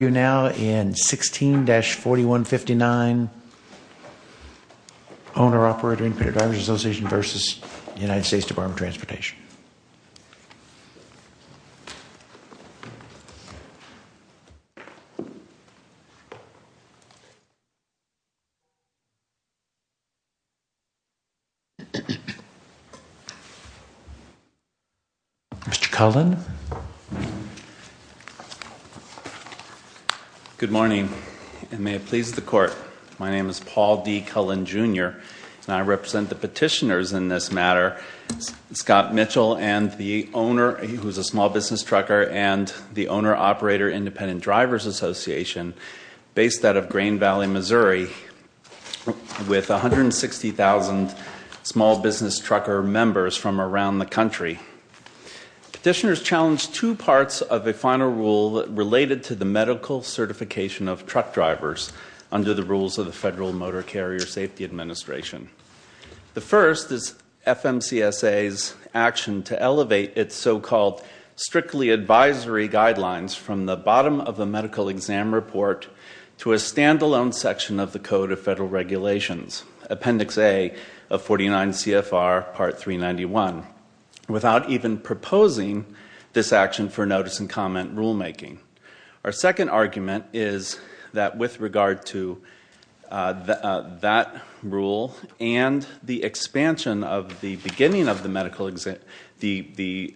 We are now in 16-4159, Owner-Operator and Credit Drivers Association v. U.S. Dept. of Transportation Mr. Cullen Good morning and may it please the court. My name is Paul D. Cullen Jr. and I represent the petitioners in this matter. Scott Mitchell and the owner, who is a small business trucker, and the Owner-Operator Independent Drivers Association based out of Grain Valley, Missouri with 160,000 small business trucker members from around the country. Petitioners challenge two parts of a final rule related to the medical certification of truck drivers under the rules of the Federal Motor Carrier Safety Administration. The first is FMCSA's action to elevate its so-called strictly advisory guidelines from the bottom of the medical exam report to a stand-alone section of the Code of Federal Regulations, Appendix A of 49 CFR Part 391, without even proposing this action for notice and comment rulemaking. Our second argument is that with regard to that rule and the expansion of the beginning of the medical exam, the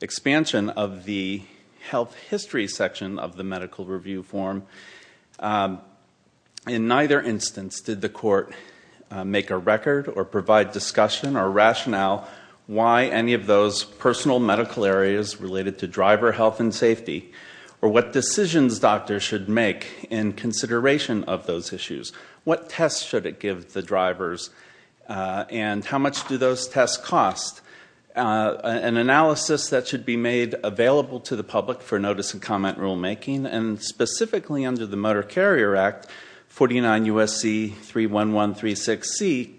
expansion of the health history section of the medical review form, in neither instance did the court make a record or provide discussion or rationale why any of those personal medical areas related to driver health and safety or what decisions doctors should make in consideration of those issues. What tests should it give the drivers and how much do those tests cost? An analysis that should be made available to the public for notice and comment rulemaking and specifically under the Motor Carrier Act, 49 U.S.C. 31136C,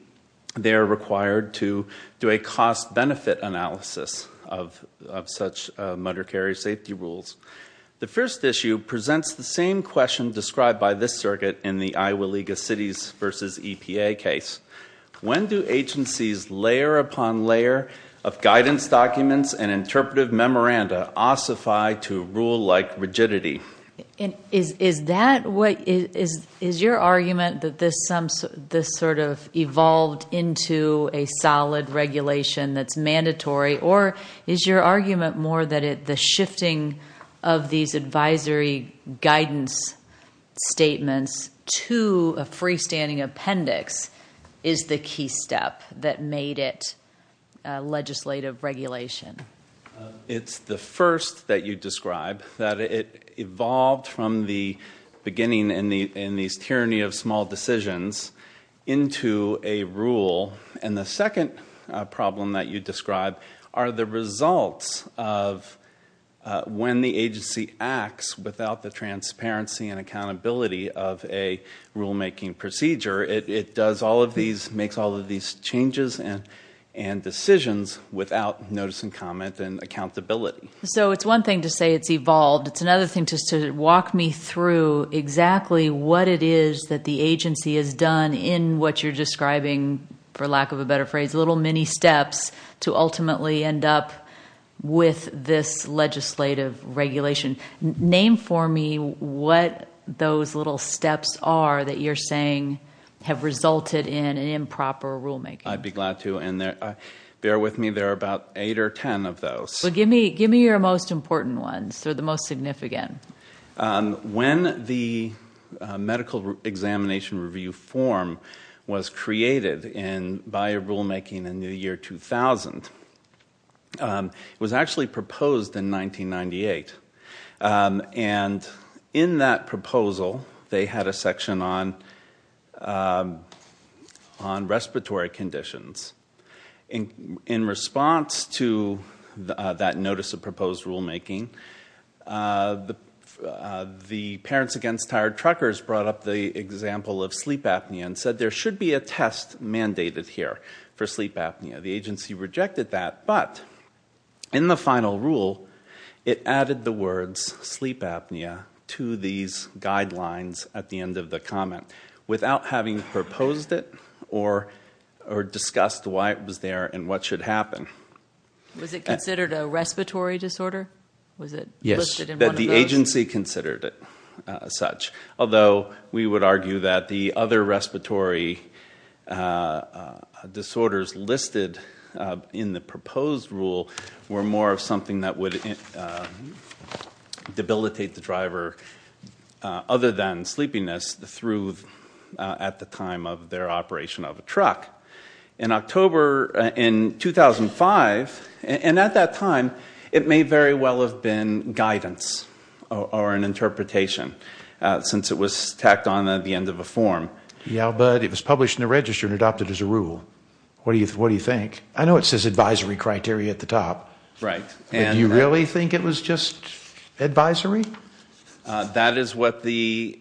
they are required to do a cost-benefit analysis of such motor carrier safety rules. The first issue presents the same question described by this circuit in the Iowa League of Cities v. EPA case. When do agencies layer upon layer of guidance documents and interpretive memoranda ossify to rule-like rigidity? Is your argument that this sort of evolved into a solid regulation that's mandatory or is your argument more that the shifting of these advisory guidance statements to a freestanding appendix is the key step that made it legislative regulation? It's the first that you describe, that it evolved from the beginning in these tyranny of small decisions into a rule. And the second problem that you describe are the results of when the agency acts without the transparency and accountability of a rulemaking procedure. It makes all of these changes and decisions without notice and comment and accountability. So it's one thing to say it's evolved. It's another thing just to walk me through exactly what it is that the agency has done in what you're describing, for lack of a better phrase, little mini steps to ultimately end up with this legislative regulation. Name for me what those little steps are that you're saying have resulted in an improper rulemaking. I'd be glad to, and bear with me. There are about eight or ten of those. Give me your most important ones or the most significant. When the medical examination review form was created by a rulemaking in the year 2000, it was actually proposed in 1998. And in that proposal, they had a section on respiratory conditions. In response to that notice of proposed rulemaking, the Parents Against Tired Truckers brought up the example of sleep apnea and said there should be a test mandated here for sleep apnea. The agency rejected that, but in the final rule, it added the words sleep apnea to these guidelines at the end of the comment without having proposed it or discussed why it was there and what should happen. Was it considered a respiratory disorder? Was it listed in one of those? Yes, the agency considered it such. Although we would argue that the other respiratory disorders listed in the proposed rule were more of something that would debilitate the driver other than sleepiness through at the time of their operation of a truck. In October in 2005, and at that time, it may very well have been guidance or an interpretation since it was tacked on at the end of a form. Yeah, but it was published in the register and adopted as a rule. What do you think? I know it says advisory criteria at the top. Right. Do you really think it was just advisory? That is what the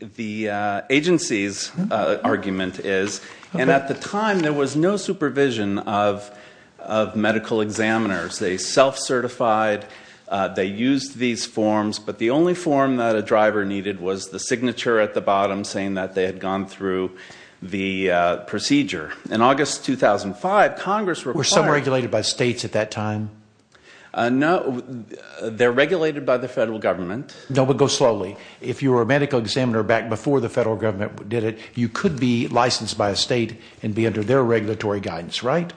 agency's argument is. At the time, there was no supervision of medical examiners. They self-certified, they used these forms, but the only form that a driver needed was the signature at the bottom saying that they had gone through the procedure. In August 2005, Congress required Were some regulated by states at that time? No, they're regulated by the federal government. No, but go slowly. If you were a medical examiner back before the federal government did it, you could be licensed by a state and be under their regulatory guidance, right?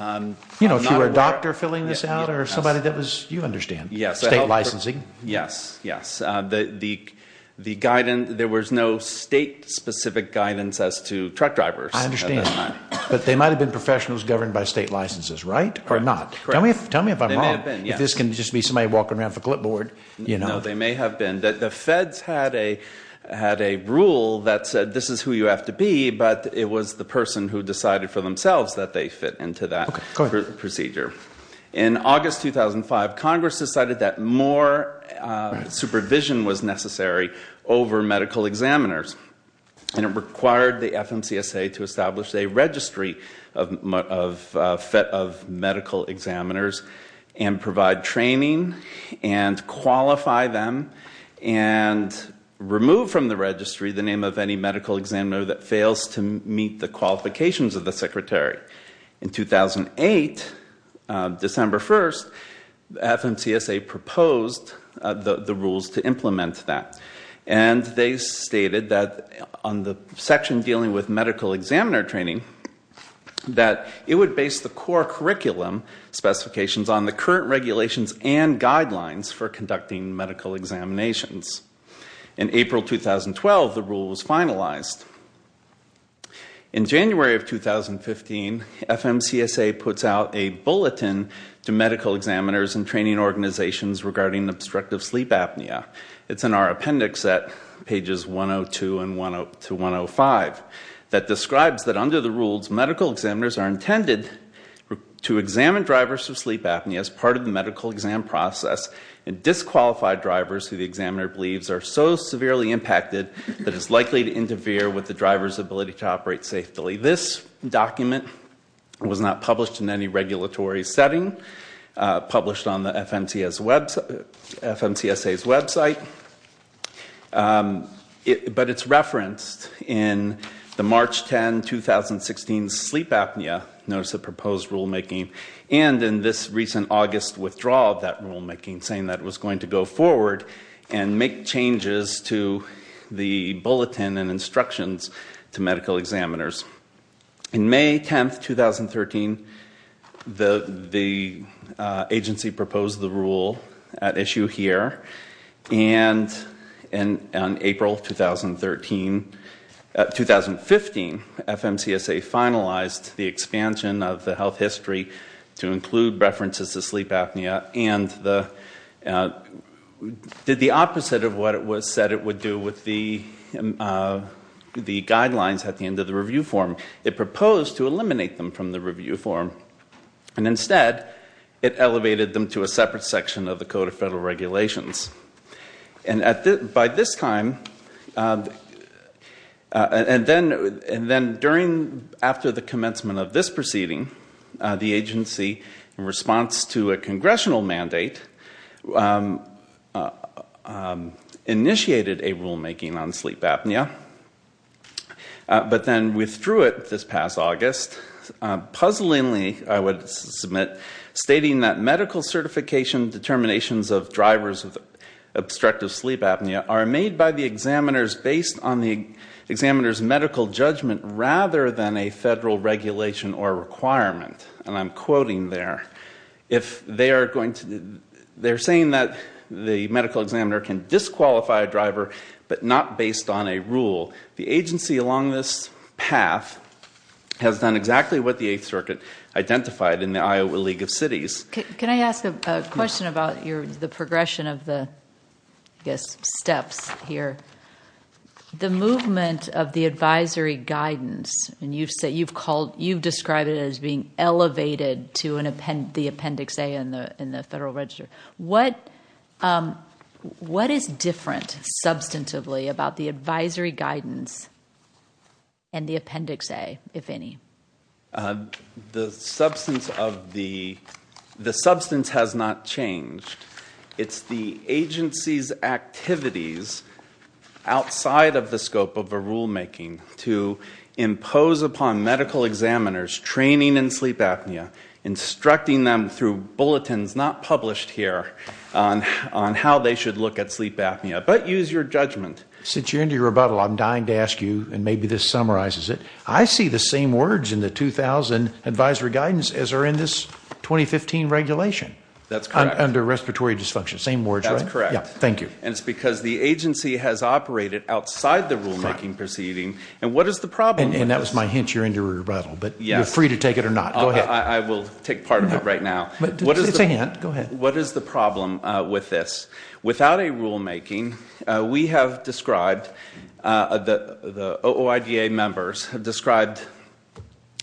If you were a doctor filling this out or somebody that was, you understand, state licensing. Yes, yes. There was no state-specific guidance as to truck drivers. I understand. But they might have been professionals governed by state licenses, right, or not? Correct. Tell me if I'm wrong. They may have been, yes. This can just be somebody walking around with a clipboard. No, they may have been. The Feds had a rule that said this is who you have to be, but it was the person who decided for themselves that they fit into that procedure. Okay, go ahead. In August 2005, Congress decided that more supervision was necessary over medical examiners, and it required the FMCSA to establish a registry of medical examiners and provide training and qualify them and remove from the registry the name of any medical examiner that fails to meet the qualifications of the secretary. In 2008, December 1st, FMCSA proposed the rules to implement that, and they stated that on the section dealing with medical examiner training that it would base the core curriculum specifications on the current regulations and guidelines for conducting medical examinations. In April 2012, the rule was finalized. In January of 2015, FMCSA puts out a bulletin to medical examiners and training organizations regarding obstructive sleep apnea. It's in our appendix at pages 102 to 105 that describes that under the rules, medical examiners are intended to examine drivers of sleep apnea as part of the medical exam process and disqualify drivers who the examiner believes are so severely impacted that it's likely to interfere with the driver's ability to operate safely. This document was not published in any regulatory setting, published on the FMCSA's website, but it's referenced in the March 10, 2016 Sleep Apnea Notice of Proposed Rulemaking and in this recent August withdrawal of that rulemaking, saying that it was going to go forward and make changes to the bulletin and instructions to medical examiners. In May 10, 2013, the agency proposed the rule at issue here, and in April 2015, FMCSA finalized the expansion of the health history to include references to sleep apnea and did the opposite of what it said it would do with the guidelines at the end of the review form. It proposed to eliminate them from the review form and instead it elevated them to a separate section of the Code of Federal Regulations. And by this time, and then after the commencement of this proceeding, the agency, in response to a congressional mandate, initiated a rulemaking on sleep apnea, but then withdrew it this past August, puzzlingly, I would submit, stating that medical certification determinations of drivers of obstructive sleep apnea are made by the examiners based on the examiners' medical judgment rather than a federal regulation or requirement. And I'm quoting there. They're saying that the medical examiner can disqualify a driver, but not based on a rule. The agency, along this path, has done exactly what the Eighth Circuit identified in the Iowa League of Cities. Can I ask a question about the progression of the steps here? The movement of the advisory guidance, and you've described it as being elevated to the Appendix A in the Federal Register. What is different substantively about the advisory guidance and the Appendix A, if any? The substance has not changed. It's the agency's activities outside of the scope of a rulemaking to impose upon medical examiners training in sleep apnea, instructing them through bulletins not published here on how they should look at sleep apnea, but use your judgment. Since you're into your rebuttal, I'm dying to ask you, and maybe this summarizes it. I see the same words in the 2000 advisory guidance as are in this 2015 regulation. That's correct. Under respiratory dysfunction. Same words, right? That's correct. Thank you. And it's because the agency has operated outside the rulemaking proceeding. And what is the problem with this? And that was my hint you're into your rebuttal, but you're free to take it or not. Go ahead. I will take part of it right now. It's a hint. Go ahead. What is the problem with this? Without a rulemaking, we have described, the OIDA members have described,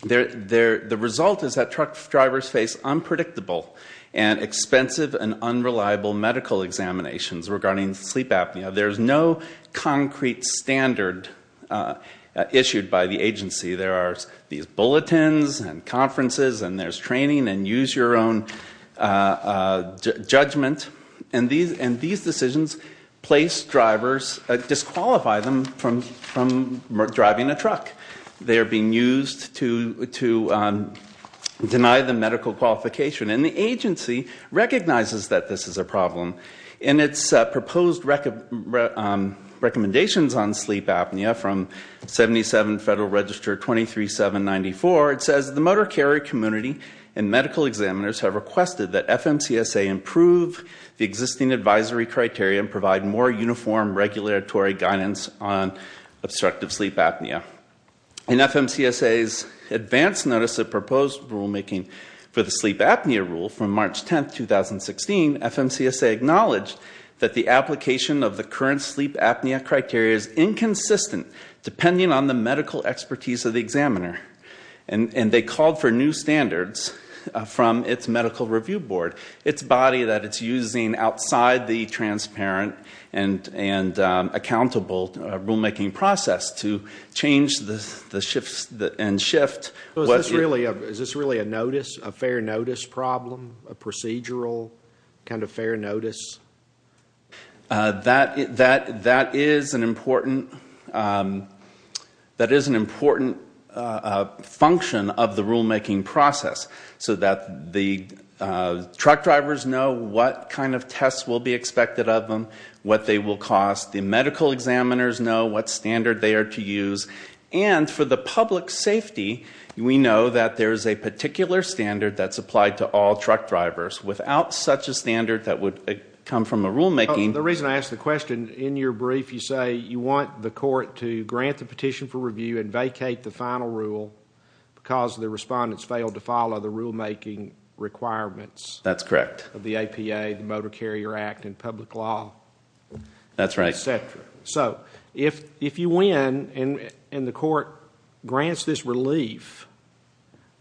the result is that truck drivers face unpredictable and expensive and unreliable medical examinations regarding sleep apnea. There's no concrete standard issued by the agency. There are these bulletins and conferences and there's training and use your own judgment. And these decisions place drivers, disqualify them from driving a truck. They are being used to deny them medical qualification. And the agency recognizes that this is a problem. In its proposed recommendations on sleep apnea from 77 Federal Register 23794, it says the motor carrier community and medical examiners have requested that FMCSA improve the existing advisory criteria and provide more uniform regulatory guidance on obstructive sleep apnea. In FMCSA's advance notice of proposed rulemaking for the sleep apnea rule from March 10, 2016, FMCSA acknowledged that the application of the current sleep apnea criteria is inconsistent depending on the medical expertise of the examiner. And they called for new standards from its medical review board, its body that it's using outside the transparent and accountable rulemaking process to change the shifts and shift. Is this really a notice, a fair notice problem, a procedural kind of fair notice? That is an important function of the rulemaking process so that the truck drivers know what kind of tests will be expected of them, what they will cost. The medical examiners know what standard they are to use. And for the public safety, we know that there is a particular standard that's applied to all truck drivers without such a standard that would come from a rulemaking. The reason I ask the question, in your brief you say you want the court to grant the petition for review and vacate the final rule because the respondents failed to follow the rulemaking requirements. That's correct. Of the APA, the Motor Carrier Act, and public law. That's right. So if you win and the court grants this relief,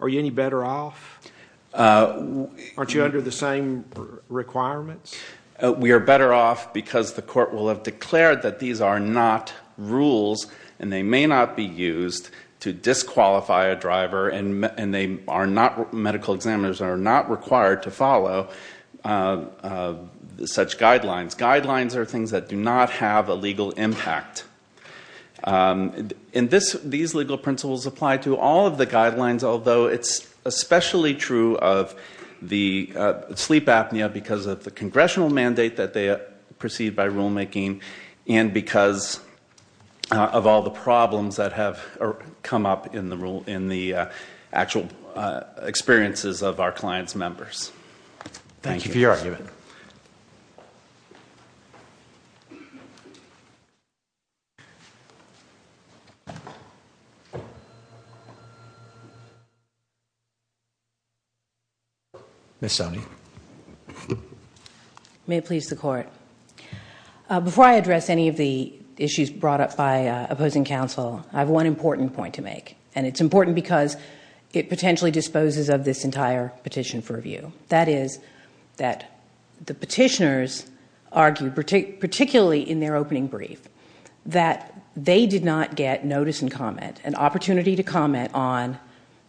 are you any better off? Aren't you under the same requirements? We are better off because the court will have declared that these are not rules and they may not be used to disqualify a driver and medical examiners are not required to follow such guidelines. Guidelines are things that do not have a legal impact. These legal principles apply to all of the guidelines, although it's especially true of the sleep apnea because of the congressional mandate that they proceed by rulemaking and because of all the problems that have come up in the actual experiences of our clients' members. Thank you for your argument. Ms. Sonny. May it please the court. Before I address any of the issues brought up by opposing counsel, I have one important point to make, and it's important because it potentially disposes of this entire petition for review. That is that the petitioners argued, particularly in their opening brief, that they did not get notice and comment, an opportunity to comment on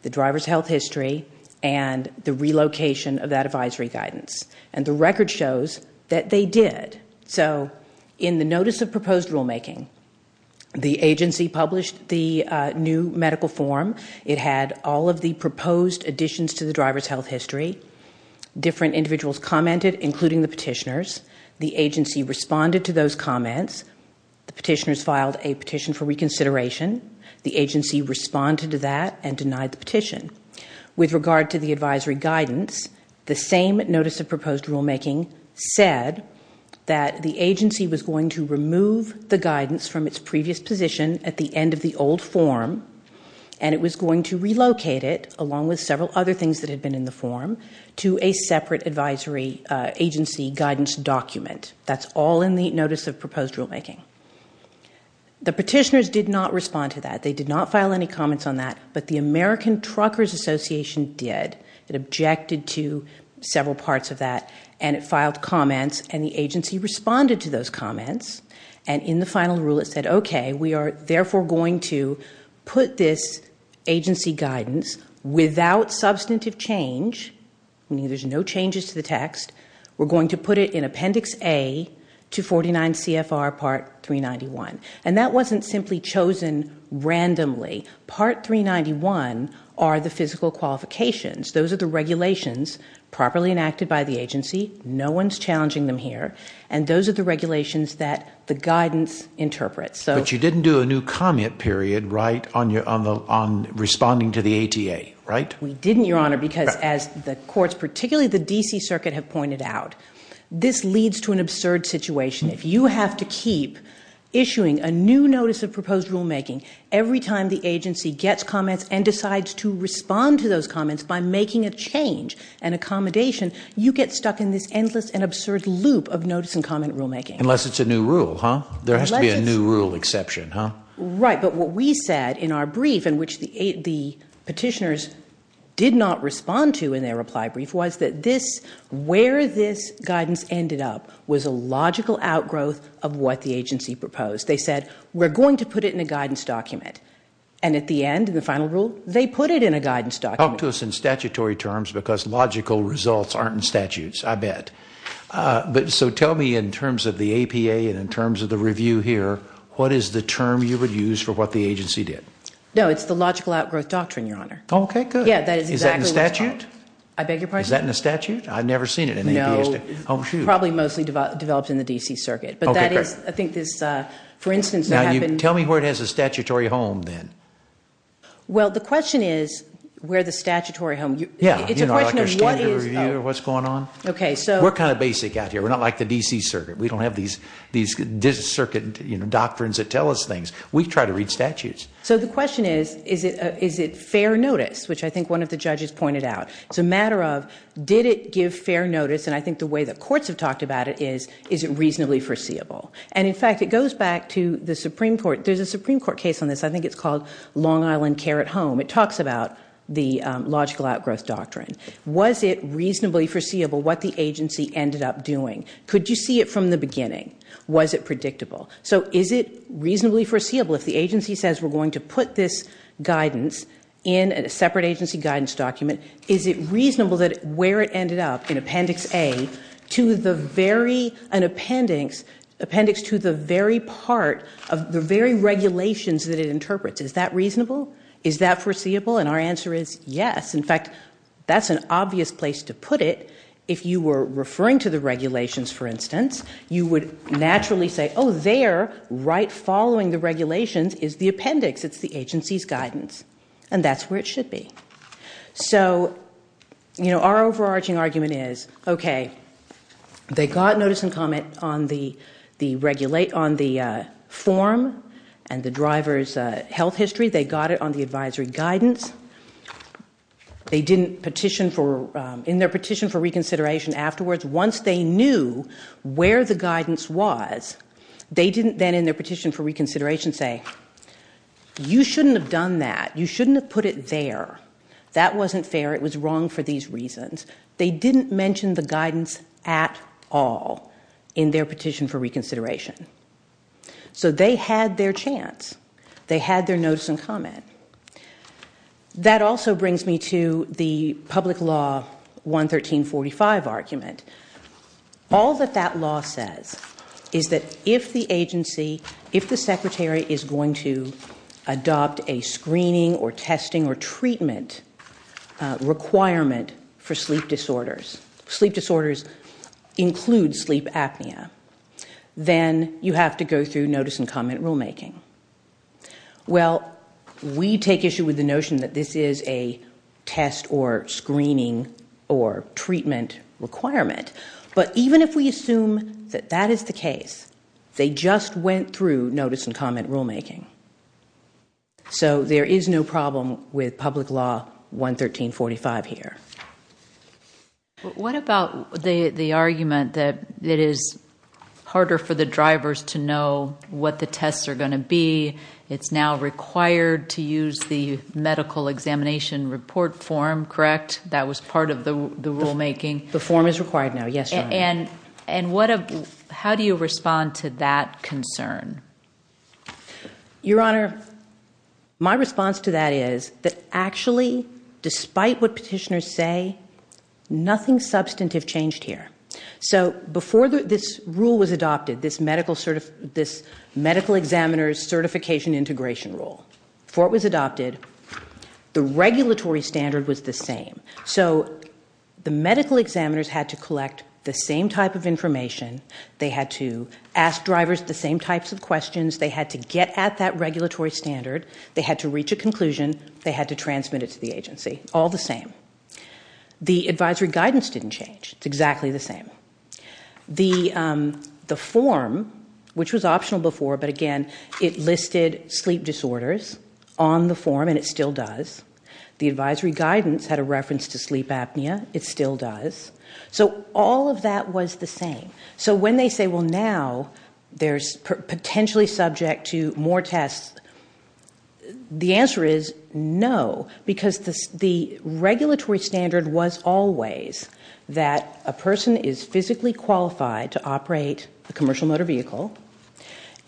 the driver's health history and the relocation of that advisory guidance. And the record shows that they did. So in the notice of proposed rulemaking, the agency published the new medical form. It had all of the proposed additions to the driver's health history. Different individuals commented, including the petitioners. The agency responded to those comments. The petitioners filed a petition for reconsideration. The agency responded to that and denied the petition. With regard to the advisory guidance, from its previous position at the end of the old form, and it was going to relocate it, along with several other things that had been in the form, to a separate advisory agency guidance document. That's all in the notice of proposed rulemaking. The petitioners did not respond to that. They did not file any comments on that, but the American Truckers Association did. It objected to several parts of that, and it filed comments, and the agency responded to those comments. And in the final rule, it said, OK, we are therefore going to put this agency guidance without substantive change, meaning there's no changes to the text. We're going to put it in Appendix A, 249 CFR Part 391. And that wasn't simply chosen randomly. Part 391 are the physical qualifications. Those are the regulations properly enacted by the agency. No one's challenging them here. And those are the regulations that the guidance interprets. But you didn't do a new comment period, right, on responding to the ATA, right? We didn't, Your Honor, because as the courts, particularly the D.C. Circuit, have pointed out, this leads to an absurd situation. If you have to keep issuing a new notice of proposed rulemaking every time the agency gets comments and decides to respond to those comments by making a change and accommodation, you get stuck in this endless and absurd loop of notice and comment rulemaking. Unless it's a new rule, huh? There has to be a new rule exception, huh? Right. But what we said in our brief, in which the petitioners did not respond to in their reply brief, was that where this guidance ended up was a logical outgrowth of what the agency proposed. They said, we're going to put it in a guidance document. And at the end, in the final rule, they put it in a guidance document. Talk to us in statutory terms, because logical results aren't in statutes, I bet. So tell me, in terms of the APA and in terms of the review here, what is the term you would use for what the agency did? No, it's the Logical Outgrowth Doctrine, Your Honor. Okay, good. Yeah, that is exactly what it's called. Is that in statute? I beg your pardon? Is that in the statute? I've never seen it in the APA statute. No. Oh, shoot. Probably mostly developed in the D.C. Circuit. Okay, great. But that is, I think this, for instance, Now, tell me where it has a statutory home, then. Well, the question is, where the statutory home? Yeah. It's a question of what is. Like a standard review of what's going on? Okay, so. We're kind of basic out here. We're not like the D.C. Circuit. We don't have these D.C. Circuit doctrines that tell us things. We try to read statutes. So the question is, is it fair notice? Which I think one of the judges pointed out. It's a matter of, did it give fair notice? And I think the way that courts have talked about it is, is it reasonably foreseeable? And, in fact, it goes back to the Supreme Court. There's a Supreme Court case on this. I think it's called Long Island Care at Home. It talks about the logical outgrowth doctrine. Was it reasonably foreseeable what the agency ended up doing? Could you see it from the beginning? Was it predictable? So is it reasonably foreseeable if the agency says we're going to put this guidance in a separate agency guidance document, is it reasonable that where it ended up, in Appendix A, to the very part of the very regulations that it interprets? Is that reasonable? Is that foreseeable? And our answer is yes. In fact, that's an obvious place to put it. If you were referring to the regulations, for instance, you would naturally say, oh, there, right following the regulations, is the appendix. It's the agency's guidance. And that's where it should be. So our overarching argument is, okay, they got notice and comment on the form and the driver's health history. They got it on the advisory guidance. They didn't, in their petition for reconsideration afterwards, once they knew where the guidance was, they didn't then in their petition for reconsideration say, you shouldn't have done that. You shouldn't have put it there. That wasn't fair. It was wrong for these reasons. They didn't mention the guidance at all in their petition for reconsideration. So they had their chance. They had their notice and comment. That also brings me to the public law 11345 argument. All that that law says is that if the agency, if the secretary is going to adopt a screening or testing or treatment requirement for sleep disorders, sleep disorders include sleep apnea, then you have to go through notice and comment rulemaking. Well, we take issue with the notion that this is a test or screening or treatment requirement. But even if we assume that that is the case, they just went through notice and comment rulemaking. So there is no problem with public law 11345 here. What about the argument that it is harder for the drivers to know what the tests are going to be? It's now required to use the medical examination report form, correct? That was part of the rulemaking. The form is required now, yes. And how do you respond to that concern? Your Honor, my response to that is that actually, despite what petitioners say, nothing substantive changed here. So before this rule was adopted, this medical examiner's certification integration rule, before it was adopted, the regulatory standard was the same. So the medical examiners had to collect the same type of information, they had to ask drivers the same types of questions, they had to get at that regulatory standard, they had to reach a conclusion, they had to transmit it to the agency, all the same. The advisory guidance didn't change. It's exactly the same. The form, which was optional before, but again, it listed sleep disorders on the form, and it still does. The advisory guidance had a reference to sleep apnea. It still does. So all of that was the same. So when they say, well, now there's potentially subject to more tests, the answer is no, because the regulatory standard was always that a person is physically qualified to operate a commercial motor vehicle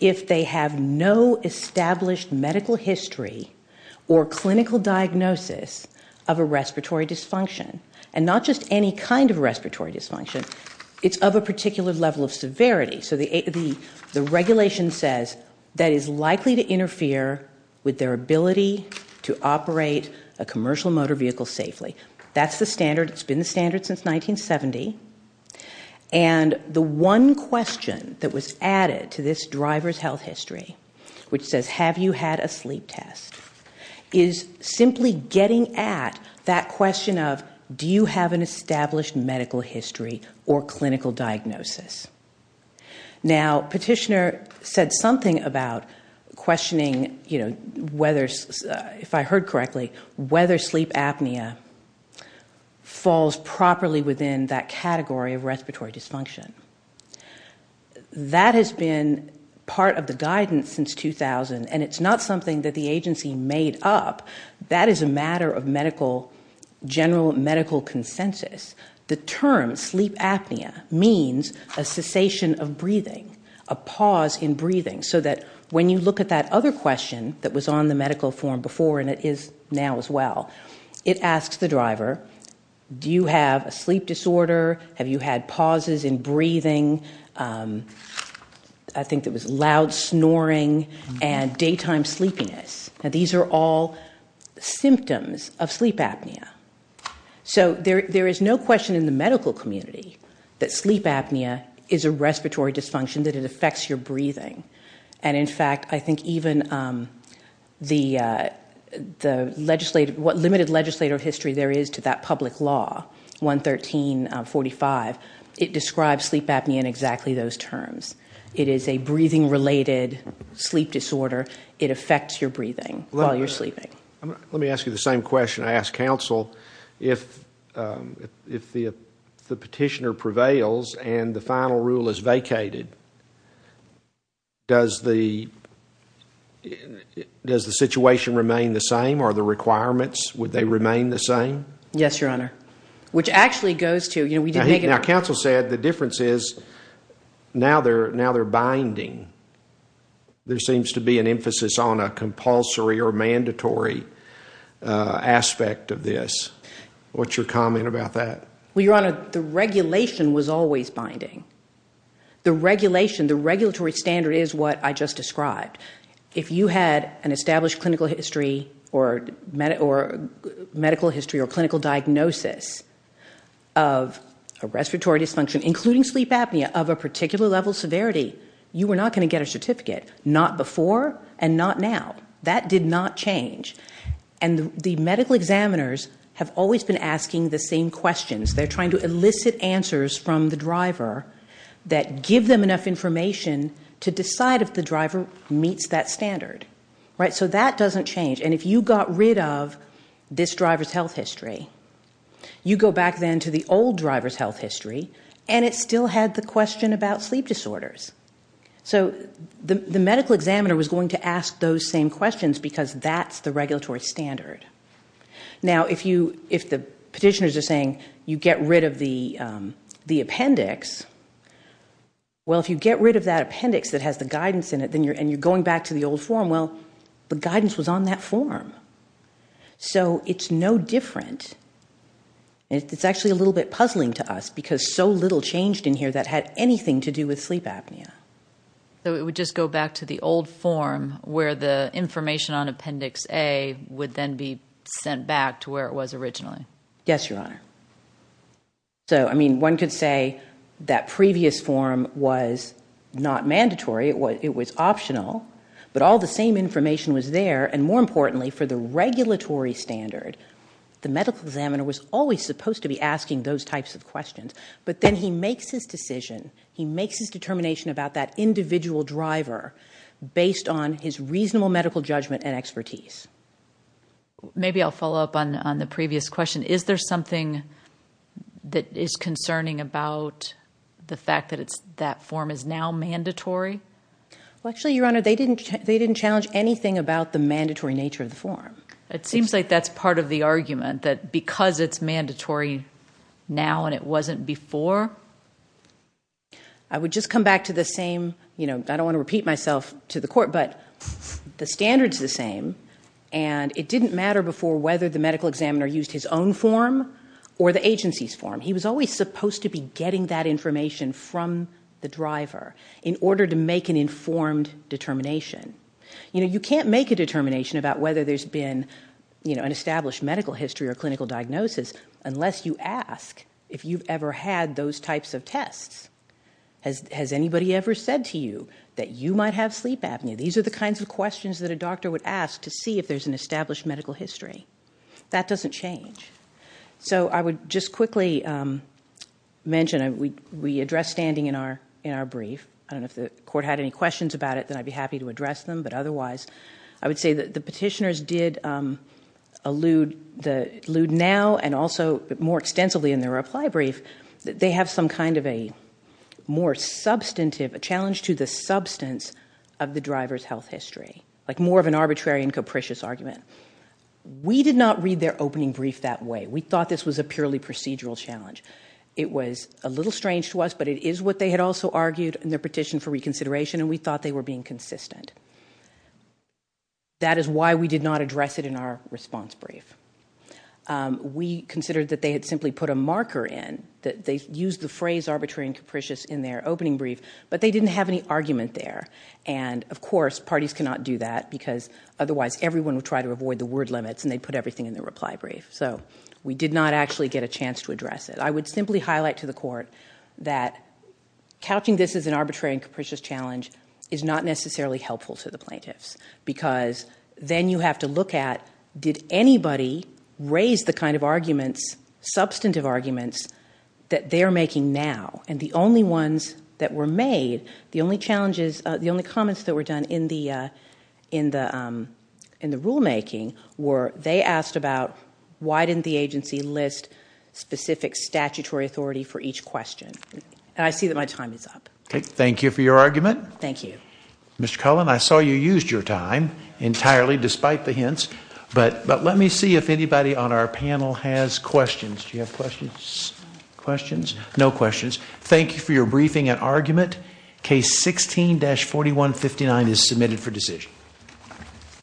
if they have no established medical history or clinical diagnosis of a respiratory dysfunction. And not just any kind of respiratory dysfunction, it's of a particular level of severity. So the regulation says that it's likely to interfere with their ability to operate a commercial motor vehicle safely. That's the standard. It's been the standard since 1970. And the one question that was added to this driver's health history, which says, have you had a sleep test, is simply getting at that question of, do you have an established medical history or clinical diagnosis? Now, Petitioner said something about questioning whether, if I heard correctly, whether sleep apnea falls properly within that category of respiratory dysfunction. That has been part of the guidance since 2000, and it's not something that the agency made up. That is a matter of general medical consensus. The term sleep apnea means a cessation of breathing, a pause in breathing, so that when you look at that other question that was on the medical form before, and it is now as well, it asks the driver, do you have a sleep disorder? Have you had pauses in breathing? I think it was loud snoring and daytime sleepiness. Now, these are all symptoms of sleep apnea. So there is no question in the medical community that sleep apnea is a respiratory dysfunction, that it affects your breathing. And, in fact, I think even the legislative, what limited legislative history there is to that public law, 11345, it describes sleep apnea in exactly those terms. It is a breathing-related sleep disorder. It affects your breathing while you're sleeping. Let me ask you the same question I asked counsel. If the petitioner prevails and the final rule is vacated, does the situation remain the same? Are the requirements, would they remain the same? Yes, Your Honor. Which actually goes to, you know, we did make a Now, counsel said the difference is now they're binding. There seems to be an emphasis on a compulsory or mandatory aspect of this. What's your comment about that? Well, Your Honor, the regulation was always binding. The regulation, the regulatory standard is what I just described. If you had an established clinical history or medical history or clinical diagnosis of a respiratory dysfunction, including sleep apnea, of a particular level of severity, you were not going to get a certificate. Not before and not now. That did not change. And the medical examiners have always been asking the same questions. They're trying to elicit answers from the driver that give them enough information to decide if the driver meets that standard. So that doesn't change. And if you got rid of this driver's health history, you go back then to the old driver's health history, and it still had the question about sleep disorders. So the medical examiner was going to ask those same questions because that's the regulatory standard. Now, if the petitioners are saying you get rid of the appendix, well, if you get rid of that appendix that has the guidance in it and you're going back to the old form, well, the guidance was on that form. So it's no different. It's actually a little bit puzzling to us because so little changed in here that had anything to do with sleep apnea. So it would just go back to the old form where the information on Appendix A would then be sent back to where it was originally. Yes, Your Honor. So, I mean, one could say that previous form was not mandatory. It was optional. But all the same information was there. And more importantly, for the regulatory standard, the medical examiner was always supposed to be asking those types of questions. But then he makes his decision. He makes his determination about that individual driver based on his reasonable medical judgment and expertise. Maybe I'll follow up on the previous question. Is there something that is concerning about the fact that that form is now mandatory? Well, actually, Your Honor, they didn't challenge anything about the mandatory nature of the form. It seems like that's part of the argument, that because it's mandatory now and it wasn't before. I would just come back to the same, you know, I don't want to repeat myself to the court, but the standard's the same, and it didn't matter before whether the medical examiner used his own form or the agency's form. He was always supposed to be getting that information from the driver in order to make an informed determination. You know, you can't make a determination about whether there's been, you know, an established medical history or clinical diagnosis unless you ask if you've ever had those types of tests. Has anybody ever said to you that you might have sleep apnea? These are the kinds of questions that a doctor would ask to see if there's an established medical history. That doesn't change. So I would just quickly mention we address standing in our brief. I don't know if the court had any questions about it, then I'd be happy to address them, but otherwise I would say that the petitioners did allude now and also more extensively in their reply brief that they have some kind of a more substantive challenge to the substance of the driver's health history, like more of an arbitrary and capricious argument. We did not read their opening brief that way. We thought this was a purely procedural challenge. It was a little strange to us, but it is what they had also argued in their petition for reconsideration, and we thought they were being consistent. That is why we did not address it in our response brief. We considered that they had simply put a marker in, that they used the phrase arbitrary and capricious in their opening brief, but they didn't have any argument there. And of course parties cannot do that because otherwise everyone would try to avoid the word limits, and they'd put everything in their reply brief. So we did not actually get a chance to address it. I would simply highlight to the court that couching this as an arbitrary and capricious challenge is not necessarily helpful to the plaintiffs because then you have to look at, did anybody raise the kind of arguments, substantive arguments, that they are making now? And the only ones that were made, the only comments that were done in the rulemaking were they asked about why didn't the agency list specific statutory authority for each question. And I see that my time is up. Thank you for your argument. Thank you. Mr. Cullen, I saw you used your time entirely despite the hints, but let me see if anybody on our panel has questions. Do you have questions? No questions. Thank you for your briefing and argument. Case 16-4159 is submitted for decision.